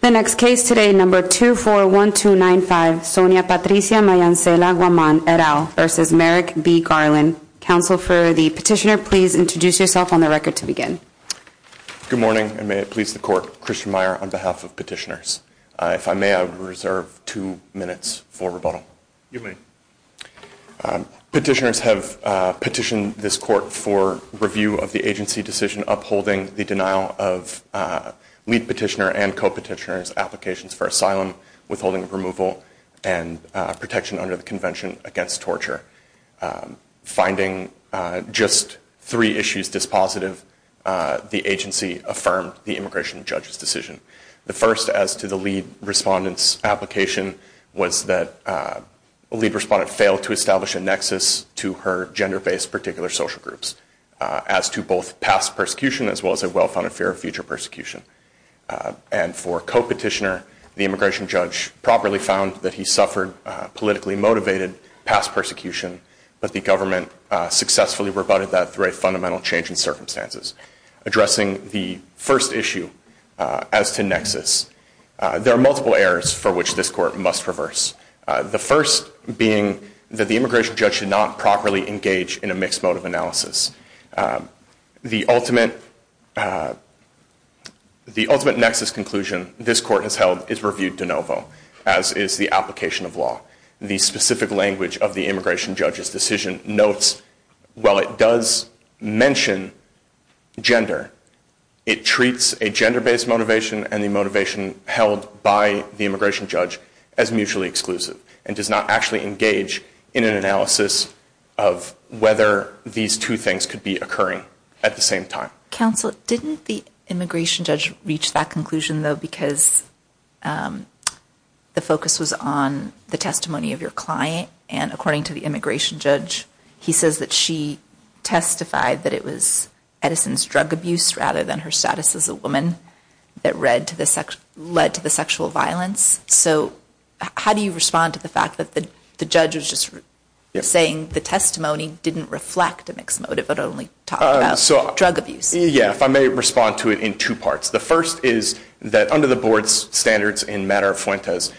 The next case today, number 241295, Sonia Patricia Mayancela Guaman et al. v. Merrick B. Garland. Counsel for the petitioner, please introduce yourself on the record to begin. Good morning, and may it please the court, Christian Meyer on behalf of petitioners. If I may, I would reserve two minutes for rebuttal. You may. Petitioners have petitioned this court for review of the agency decision upholding the denial of lead petitioner and co-petitioner's applications for asylum, withholding of removal, and protection under the Convention Against Torture. Finding just three issues dispositive, the agency affirmed the immigration judge's decision. The first, as to the lead respondent's application, was that the lead respondent failed to establish a nexus to her gender-based particular social groups. As to both past persecution as well as a well-founded fear of future persecution. And for co-petitioner, the immigration judge properly found that he suffered politically motivated past persecution, but the government successfully rebutted that through a fundamental change in circumstances. Addressing the first issue, as to nexus, there are multiple errors for which this court must reverse. The first being that the immigration judge should not properly engage in a mixed mode of analysis. The ultimate nexus conclusion this court has held is reviewed de novo, as is the application of law. The specific language of the immigration judge's decision notes, while it does mention gender, it treats a gender-based motivation and the motivation held by the immigration judge as mutually exclusive. And does not actually engage in an analysis of whether these two things could be occurring at the same time. Counsel, didn't the immigration judge reach that conclusion, though, because the focus was on the testimony of your client? And according to the immigration judge, he says that she testified that it was Edison's drug abuse, rather than her status as a woman, that led to the sexual violence. So how do you respond to the fact that the judge was just saying the testimony didn't reflect a mixed motive, but only talked about drug abuse? Yeah, if I may respond to it in two parts. The first is that under the board's standards in matter of fuentes,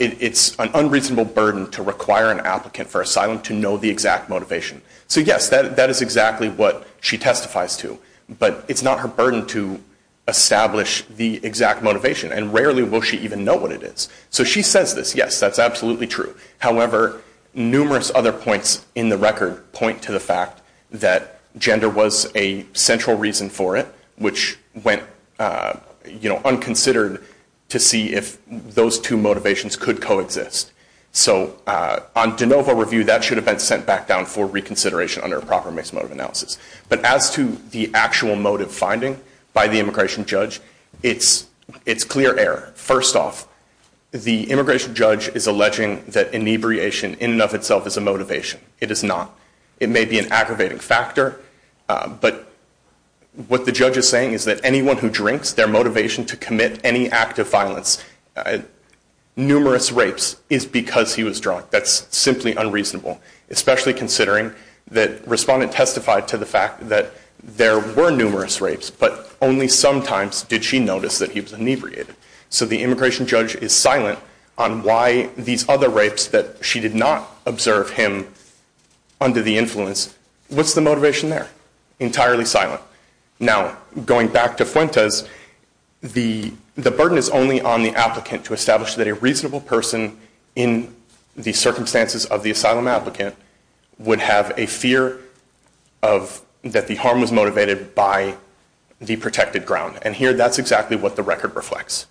it's an unreasonable burden to require an applicant for asylum to know the exact motivation. So yes, that is exactly what she testifies to, but it's not her burden to establish the exact motivation. And rarely will she even know what it is. So she says this, yes, that's absolutely true. However, numerous other points in the record point to the fact that gender was a central reason for it, which went unconsidered to see if those two motivations could coexist. So on de novo review, that should have been sent back down for reconsideration under a proper mixed motive analysis. But as to the actual motive finding by the immigration judge, it's clear error. First off, the immigration judge is alleging that inebriation in and of itself is a motivation. It is not. It may be an aggravating factor, but what the judge is saying is that anyone who drinks, their motivation to commit any act of violence, numerous rapes, is because he was drunk. That's simply unreasonable, especially considering that respondent testified to the fact that there were numerous rapes, but only sometimes did she notice that he was inebriated. So the immigration judge is silent on why these other rapes that she did not observe him under the influence. What's the motivation there? Entirely silent. Now, going back to Fuentes, the burden is only on the applicant to establish that a reasonable person in the circumstances of the asylum applicant would have a fear that the harm was motivated by the protected ground. And here, that's exactly what the record reflects.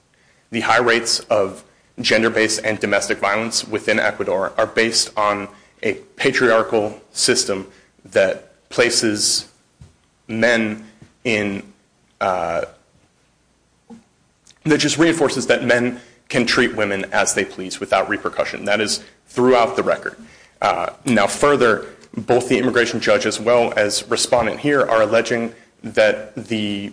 The high rates of gender-based and domestic violence within Ecuador are based on a patriarchal system that places men in, that just reinforces that men can treat women as they please without repercussion. That is throughout the record. Now, further, both the immigration judge as well as respondent here are alleging that the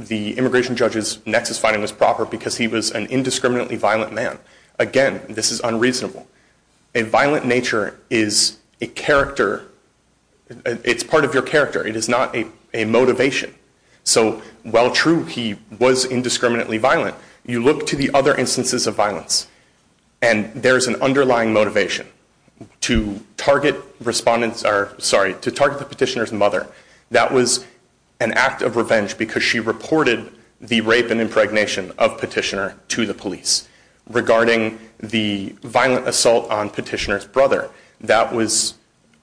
immigration judge's nexus finding was proper because he was an indiscriminately violent man. Again, this is unreasonable. A violent nature is a character. It's part of your character. It is not a motivation. So while true, he was indiscriminately violent, you look to the other instances of violence, and there's an underlying motivation to target the petitioner's mother. That was an act of revenge because she reported the rape and impregnation of petitioner to the police. Regarding the violent assault on petitioner's brother, that was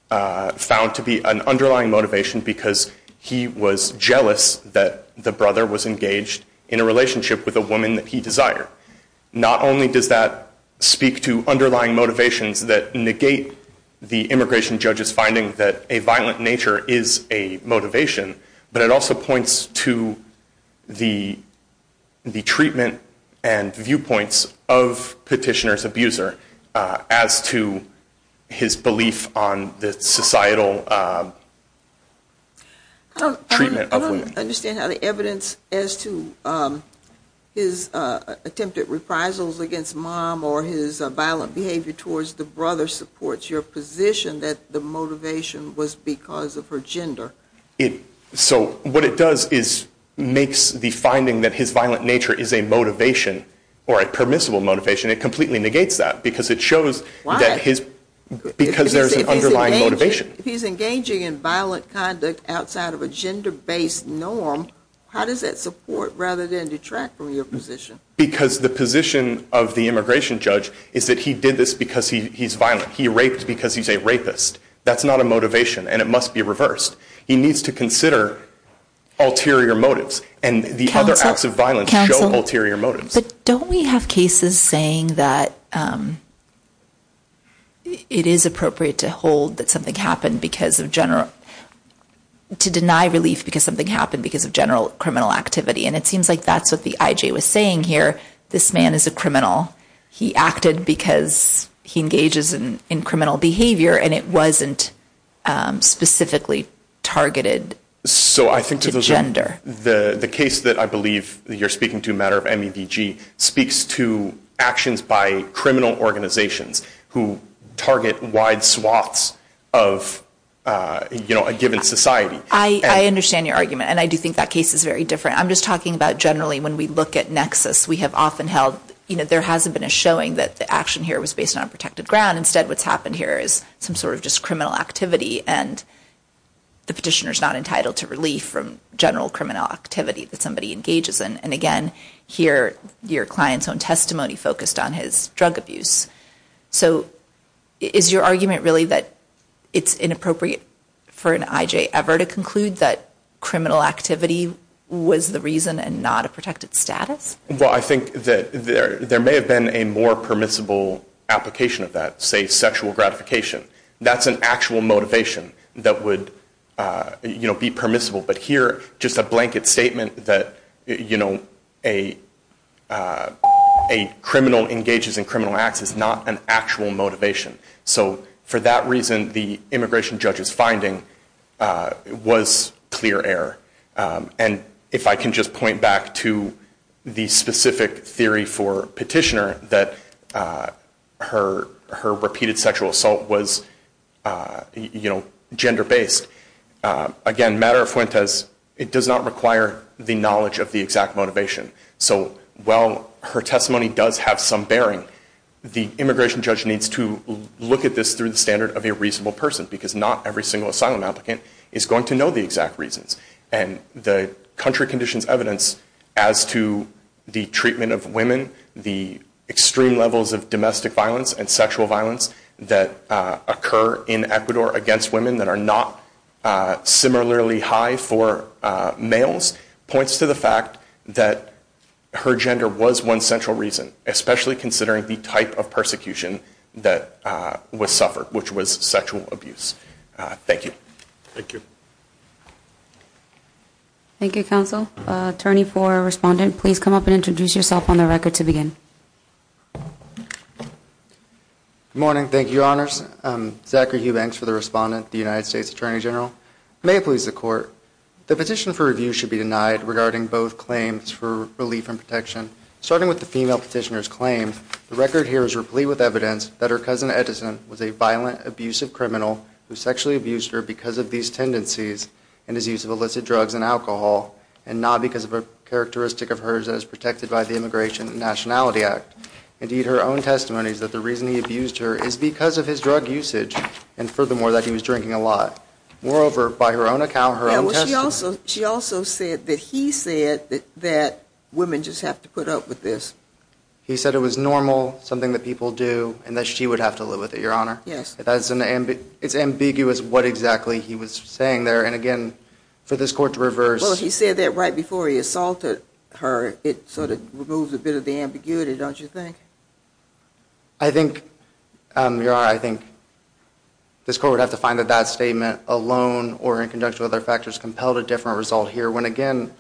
found to be an underlying motivation because he was jealous that the brother was engaged in a relationship with a woman that he desired. Not only does that speak to underlying motivations that negate the immigration judge's finding that a violent nature is a motivation, but it also points to the treatment and viewpoints of petitioner's abuser as to his belief on the societal treatment of women. I understand how the evidence as to his attempted reprisals against mom or his violent behavior towards the brother supports your position that the motivation was because of her gender. So what it does is makes the finding that his violent nature is a motivation or a permissible motivation, it completely negates that because it shows that his, because there's an underlying motivation. If he's engaging in violent conduct outside of a gender-based norm, how does that support rather than detract from your position? Because the position of the immigration judge is that he did this because he's violent. He raped because he's a rapist. That's not a motivation, and it must be reversed. He needs to consider ulterior motives, and the other acts of violence show ulterior motives. But don't we have cases saying that it is appropriate to hold that something happened because of general, to deny relief because something happened because of general criminal activity, and it seems like that's what the IJ was saying here. This man is a criminal. He acted because he engages in criminal behavior, and it wasn't specifically targeted into gender. The case that I believe you're speaking to, a matter of MEDG, speaks to actions by criminal organizations who target wide swaths of, you know, a given society. I understand your argument, and I do think that case is very different. I'm just talking about generally when we look at nexus, we have often held, you know, there hasn't been a showing that the action here was based on protected ground. Instead, what's happened here is some sort of just criminal activity, and the petitioner's not entitled to relief from general criminal activity that somebody engages in. And again, here, your client's own testimony focused on his drug abuse. So is your argument really that it's inappropriate for an IJ ever to conclude that criminal activity was the reason and not a protected status? Well, I think that there may have been a more permissible application of that, say sexual gratification. That's an actual motivation that would, you know, be permissible. But here, just a blanket statement that, you know, a criminal engages in criminal acts is not an actual motivation. So for that reason, the immigration judge's finding was clear error. And if I can just point back to the specific theory for petitioner that her repeated sexual assault was, you know, gender-based. Again, matter of Fuentes, it does not require the knowledge of the exact motivation. So while her testimony does have some bearing, the immigration judge needs to look at this through the standard of a reasonable person, because not every single asylum applicant is going to know the exact reasons. And the country conditions evidence as to the treatment of women, the extreme levels of domestic violence and sexual violence that occur in Ecuador against women that are not similarly high for males, points to the fact that her gender was one central reason, especially considering the type of persecution that was suffered, which was sexual abuse. Thank you. Thank you. Thank you, counsel. Attorney for respondent, please come up and introduce yourself on the record to begin. Good morning. Thank you, your honors. Zachary Hubanks for the respondent, the United States Attorney General. May it please the court. The petition for review should be denied regarding both claims for relief and protection. Starting with the female petitioner's claim, the record here is replete with evidence that her cousin Edison was a violent, abusive criminal who sexually abused her because of these tendencies and his use of illicit drugs and alcohol, and not because of a characteristic of hers that is protected by the Immigration and Nationality Act. Indeed, her own testimony is that the reason he abused her is because of his drug usage, and furthermore, that he was drinking a lot. Moreover, by her own account, her own testimony. She also said that he said that women just have to put up with this. He said it was normal, something that people do, and that she would have to live with it, your honor. Yes. It's ambiguous what exactly he was saying there, and again, for this court to reverse... Well, he said that right before he assaulted her. It sort of removes a bit of the ambiguity, don't you think? I think, your honor, I think this court would have to find that that statement alone, or in conjunction with other factors, compelled a different result here, when again,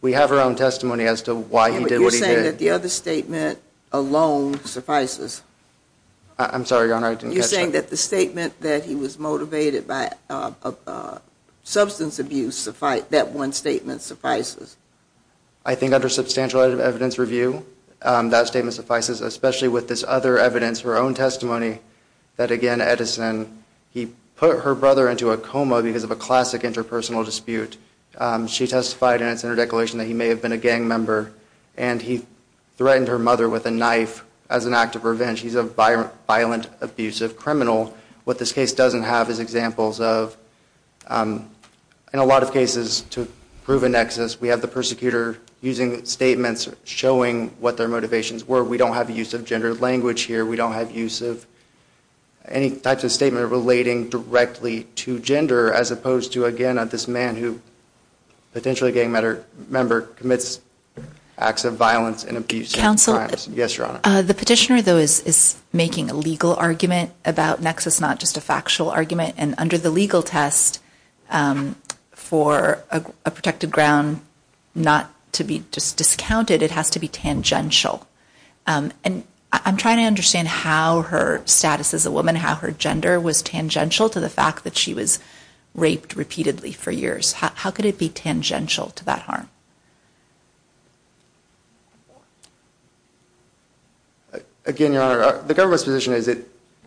we have her own testimony as to why he did what he did. You're saying that the other statement alone suffices? I'm sorry, your honor, I didn't catch that. You're saying that the statement that he was motivated by substance abuse, that one statement suffices? I think under substantial evidence review, that statement suffices, especially with this other evidence, her own testimony, that again, Edison, he put her brother into a coma because of a classic interpersonal dispute. She testified in its interdeclaration that he may have been a gang member, and he threatened her mother with a knife as an act of revenge. He's a violent, abusive criminal. What this case doesn't have is examples of, in a lot of cases, to prove a nexus, we have the persecutor using statements showing what their motivations were. We don't have use of gender language here. We don't have use of any type of statement relating directly to gender, as opposed to, again, this man who, potentially a gang member, commits acts of violence and abuse. Yes, your honor. The petitioner, though, is making a legal argument about nexus, not just a factual argument. And under the legal test, for a protected ground not to be just discounted, it has to be tangential. And I'm trying to understand how her status as a woman, how her gender was tangential to the fact that she was raped repeatedly for years. How could it be tangential to that harm? Again, your honor, the government's position is that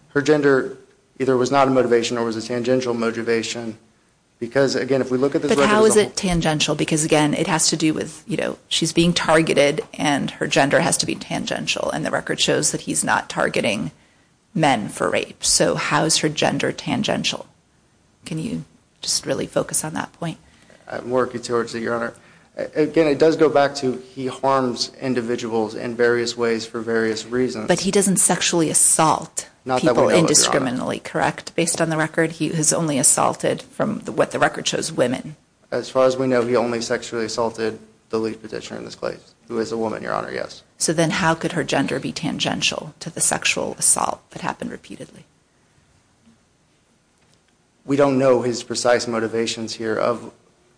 her gender either was not a motivation or was a tangential motivation. Because, again, if we look at this record as a whole. But how is it tangential? Because, again, it has to do with, you know, she's being targeted, and her gender has to be tangential. And the record shows that he's not targeting men for rape. So how is her gender tangential? Can you just really focus on that point? I'm working towards it, your honor. Again, it does go back to he harms individuals in various ways for various reasons. But he doesn't sexually assault people indiscriminately, correct? Based on the record, he has only assaulted, from what the record shows, women. As far as we know, he only sexually assaulted the lead petitioner in this case, who is a woman, your honor, yes. So then how could her gender be tangential to the sexual assault that happened repeatedly? We don't know his precise motivations here.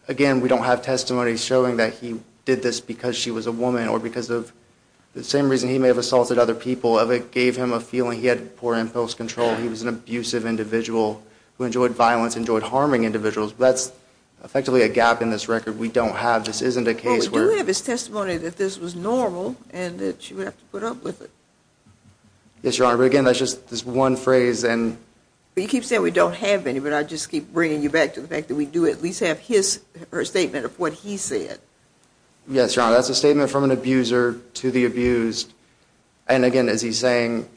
Again, we don't have testimony showing that he did this because she was a woman or because of the same reason he may have assaulted other people. It gave him a feeling he had poor impulse control. He was an abusive individual who enjoyed violence, enjoyed harming individuals. That's effectively a gap in this record we don't have. This isn't a case where. We do have his testimony that this was normal and that she would have to put up with it. Yes, your honor, but again, that's just this one phrase and. You keep saying we don't have any, but I just keep bringing you back to the fact that we do at least have his or her statement of what he said. Yes, your honor, that's a statement from an abuser to the abused. And again, is he saying,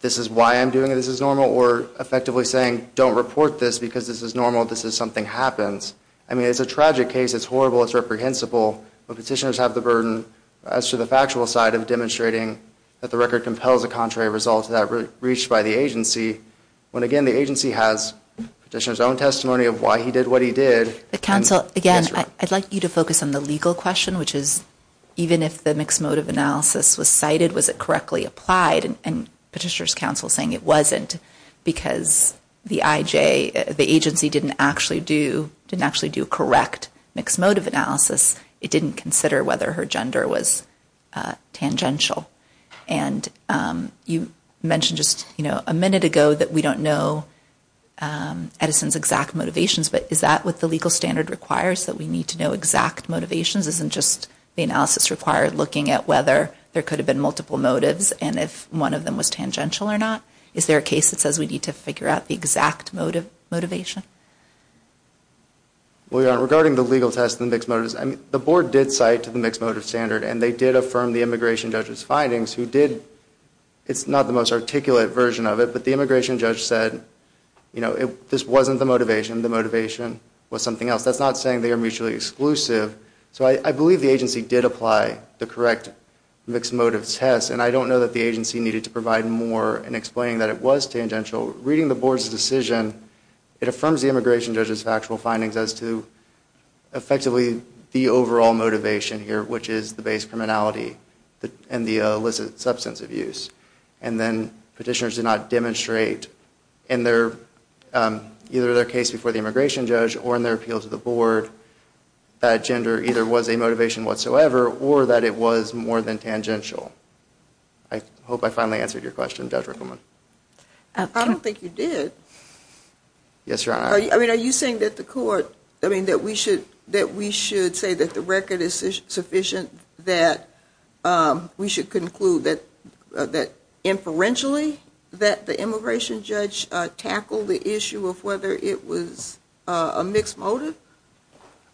this is why I'm doing it, this is normal? Or effectively saying, don't report this because this is normal, this is something happens. I mean, it's a tragic case, it's horrible, it's reprehensible. But petitioners have the burden as to the factual side of demonstrating that the record compels a contrary result to that reached by the agency. When again, the agency has petitioner's own testimony of why he did what he did. Counsel, again, I'd like you to focus on the legal question, which is even if the mixed motive analysis was cited, was it correctly applied? And petitioner's counsel saying it wasn't because the IJ, the agency didn't actually do, correct mixed motive analysis, it didn't consider whether her gender was tangential. And you mentioned just a minute ago that we don't know Edison's exact motivations, but is that what the legal standard requires, that we need to know exact motivations? Isn't just the analysis required looking at whether there could have been multiple motives and if one of them was tangential or not? Is there a case that says we need to figure out the exact motivation? Well, regarding the legal test and mixed motives, the board did cite the mixed motive standard and they did affirm the immigration judge's findings who did, it's not the most articulate version of it, but the immigration judge said, you know, this wasn't the motivation, the motivation was something else. That's not saying they are mutually exclusive. So I believe the agency did apply the correct mixed motive test and I don't know that the agency needed to provide more in explaining that it was tangential. Reading the board's decision, it affirms the immigration judge's factual findings as to effectively the overall motivation here, which is the base criminality and the illicit substance abuse. And then petitioners did not demonstrate in their, either their case before the immigration judge or in their appeal to the board that gender either was a motivation whatsoever or that it was more than tangential. I hope I finally answered your question, Judge Rickleman. I don't think you did. Yes, Your Honor. I mean, are you saying that the court, I mean, that we should, that we should say that the record is sufficient that we should conclude that, that inferentially that the immigration judge tackled the issue of whether it was a mixed motive?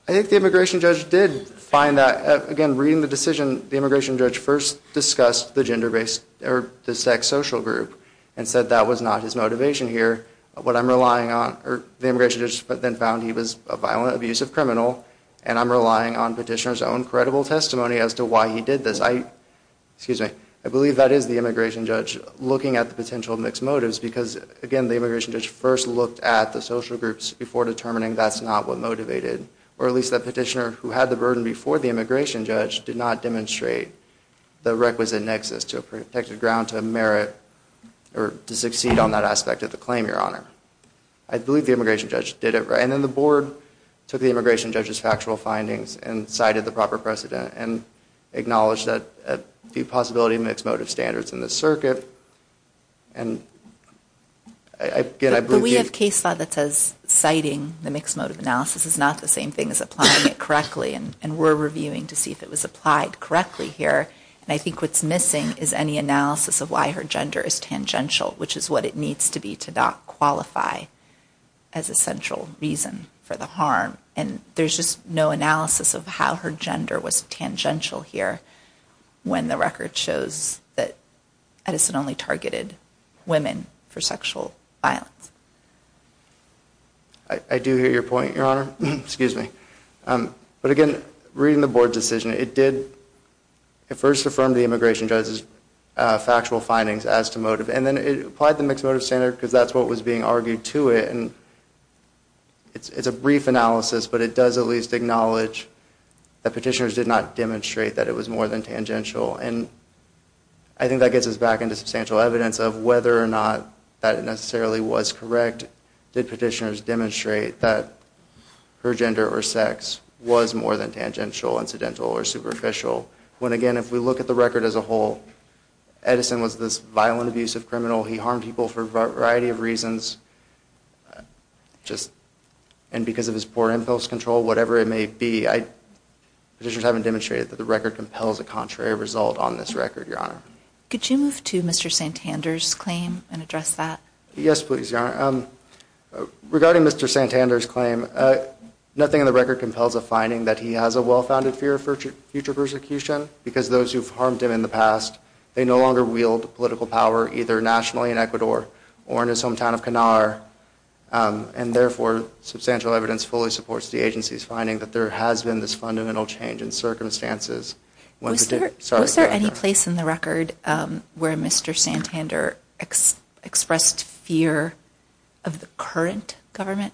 I think the immigration judge did find that, again, reading the decision, the immigration judge first discussed the gender-based or the sex social group and said that was not his motivation here. What I'm relying on, or the immigration judge then found he was a violent, abusive criminal and I'm relying on petitioner's own credible testimony as to why he did this. I, excuse me, I believe that is the immigration judge looking at the potential mixed motives because, again, the immigration judge first looked at the social groups before determining that's not what motivated. Or at least that petitioner who had the burden before the immigration judge did not demonstrate the requisite nexus to a protected ground, to merit, or to succeed on that aspect of the claim, Your Honor. I believe the immigration judge did it right. And then the board took the immigration judge's factual findings and cited the proper precedent and acknowledged that the possibility of mixed motive standards in the circuit. And, again, I believe. But we have case law that says citing the mixed motive analysis is not the same thing as applying it correctly and we're reviewing to see if it was applied correctly here. And I think what's missing is any analysis of why her gender is tangential, which is what it needs to be to not qualify as a central reason for the harm. And there's just no analysis of how her gender was tangential here when the record shows that Edison only targeted women for sexual violence. I do hear your point, Your Honor. Excuse me. But, again, reading the board's decision, it did, it first affirmed the immigration judge's factual findings as to motive. And then it applied the mixed motive standard because that's what was being argued to it. And it's a brief analysis, but it does at least acknowledge that petitioners did not demonstrate that it was more than tangential. And I think that gets us back into substantial evidence of whether or not that it necessarily was correct. Did petitioners demonstrate that her gender or sex was more than tangential, incidental, or superficial? When, again, if we look at the record as a whole, Edison was this violent, abusive criminal. He harmed people for a variety of reasons just, and because of his poor impulse control, whatever it may be, I, petitioners haven't demonstrated that the record compels a contrary result on this record, Your Honor. Could you move to Mr. Santander's claim and address that? Yes, please, Your Honor. Regarding Mr. Santander's claim, nothing in the record compels a finding that he has a well-founded fear of future persecution because those who've harmed him in the past, they no longer wield political power either nationally in Ecuador or in his hometown of Canaar. And, therefore, substantial evidence fully supports the agency's finding that there has been this fundamental change in circumstances. Was there any place in the record where Mr. Santander expressed fear of the current government?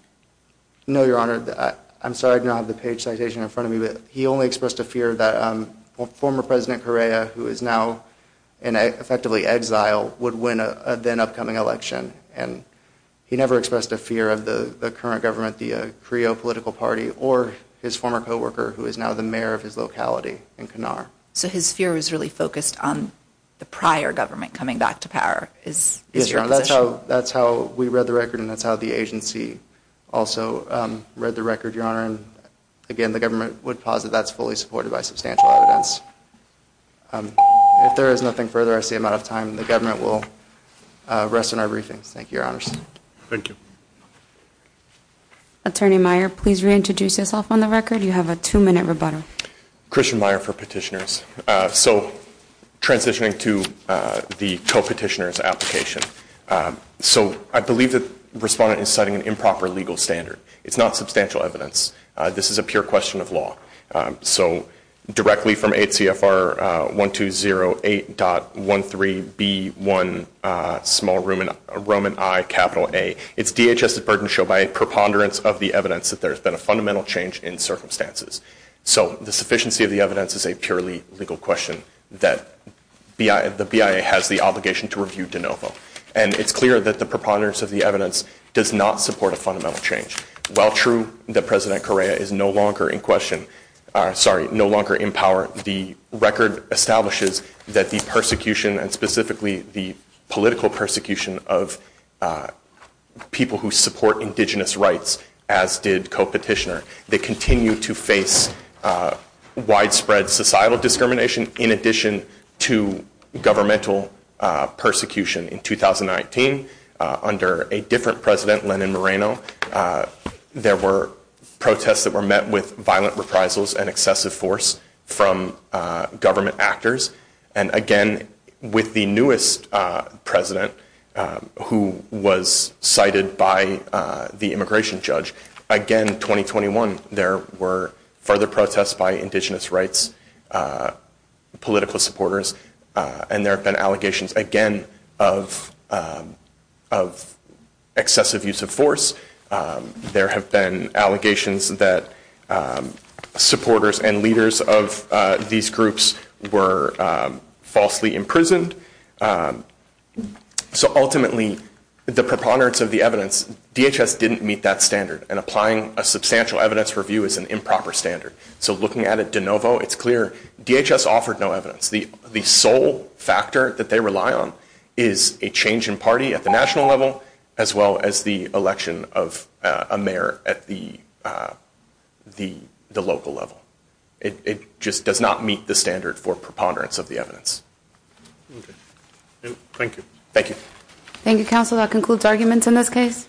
No, Your Honor. I'm sorry I don't have the page citation in front of me, but he only expressed a fear that former President Correa, who is now in effectively exile, would win a then-upcoming election. And he never expressed a fear of the current government, the Creo political party, or his former co-worker, who is now the mayor of his locality in Canaar. So his fear was really focused on the prior government coming back to power? Yes, Your Honor, that's how we read the record, and that's how the agency also read the record, Your Honor. And, again, the government would posit that's fully supported by substantial evidence. If there is nothing further, I see I'm out of time. The government will rest in our briefings. Thank you, Your Honor. Thank you. Attorney Meyer, please reintroduce yourself on the record. You have a two-minute rebuttal. Christian Meyer for petitioners. So transitioning to the co-petitioner's application. So I believe the respondent is citing an improper legal standard. It's not substantial evidence. This is a pure question of law. So directly from ACFR 1208.13B1, small Roman I, capital A. It's DHS's burden to show by a preponderance of the evidence that there's been a fundamental change in circumstances. So the sufficiency of the evidence is a purely legal question that the BIA has the obligation to review de novo. And it's clear that the preponderance of the evidence does not support a fundamental change. While true that President Correa is no longer in question, sorry, no longer in power, the record establishes that the persecution and specifically the political persecution of people who support indigenous rights, as did co-petitioner, they continue to face widespread societal discrimination in addition to governmental persecution. In 2019, under a different president, Lenin Moreno, there were protests that were met with violent reprisals and excessive force from government actors. And again, with the newest president who was cited by the immigration judge, again, 2021, there were further protests by indigenous rights political supporters. And there have been allegations, again, of excessive use of force. There have been allegations that supporters and leaders of these groups were falsely imprisoned. So ultimately, the preponderance of the evidence, DHS didn't meet that standard and applying a substantial evidence review is an improper standard. So looking at it de novo, it's clear DHS offered no evidence. The sole factor that they rely on is a change in party at the national level, as well as the election of a mayor at the local level. It just does not meet the standard for preponderance of the evidence. Thank you. Thank you. Thank you, counsel. That concludes arguments in this case.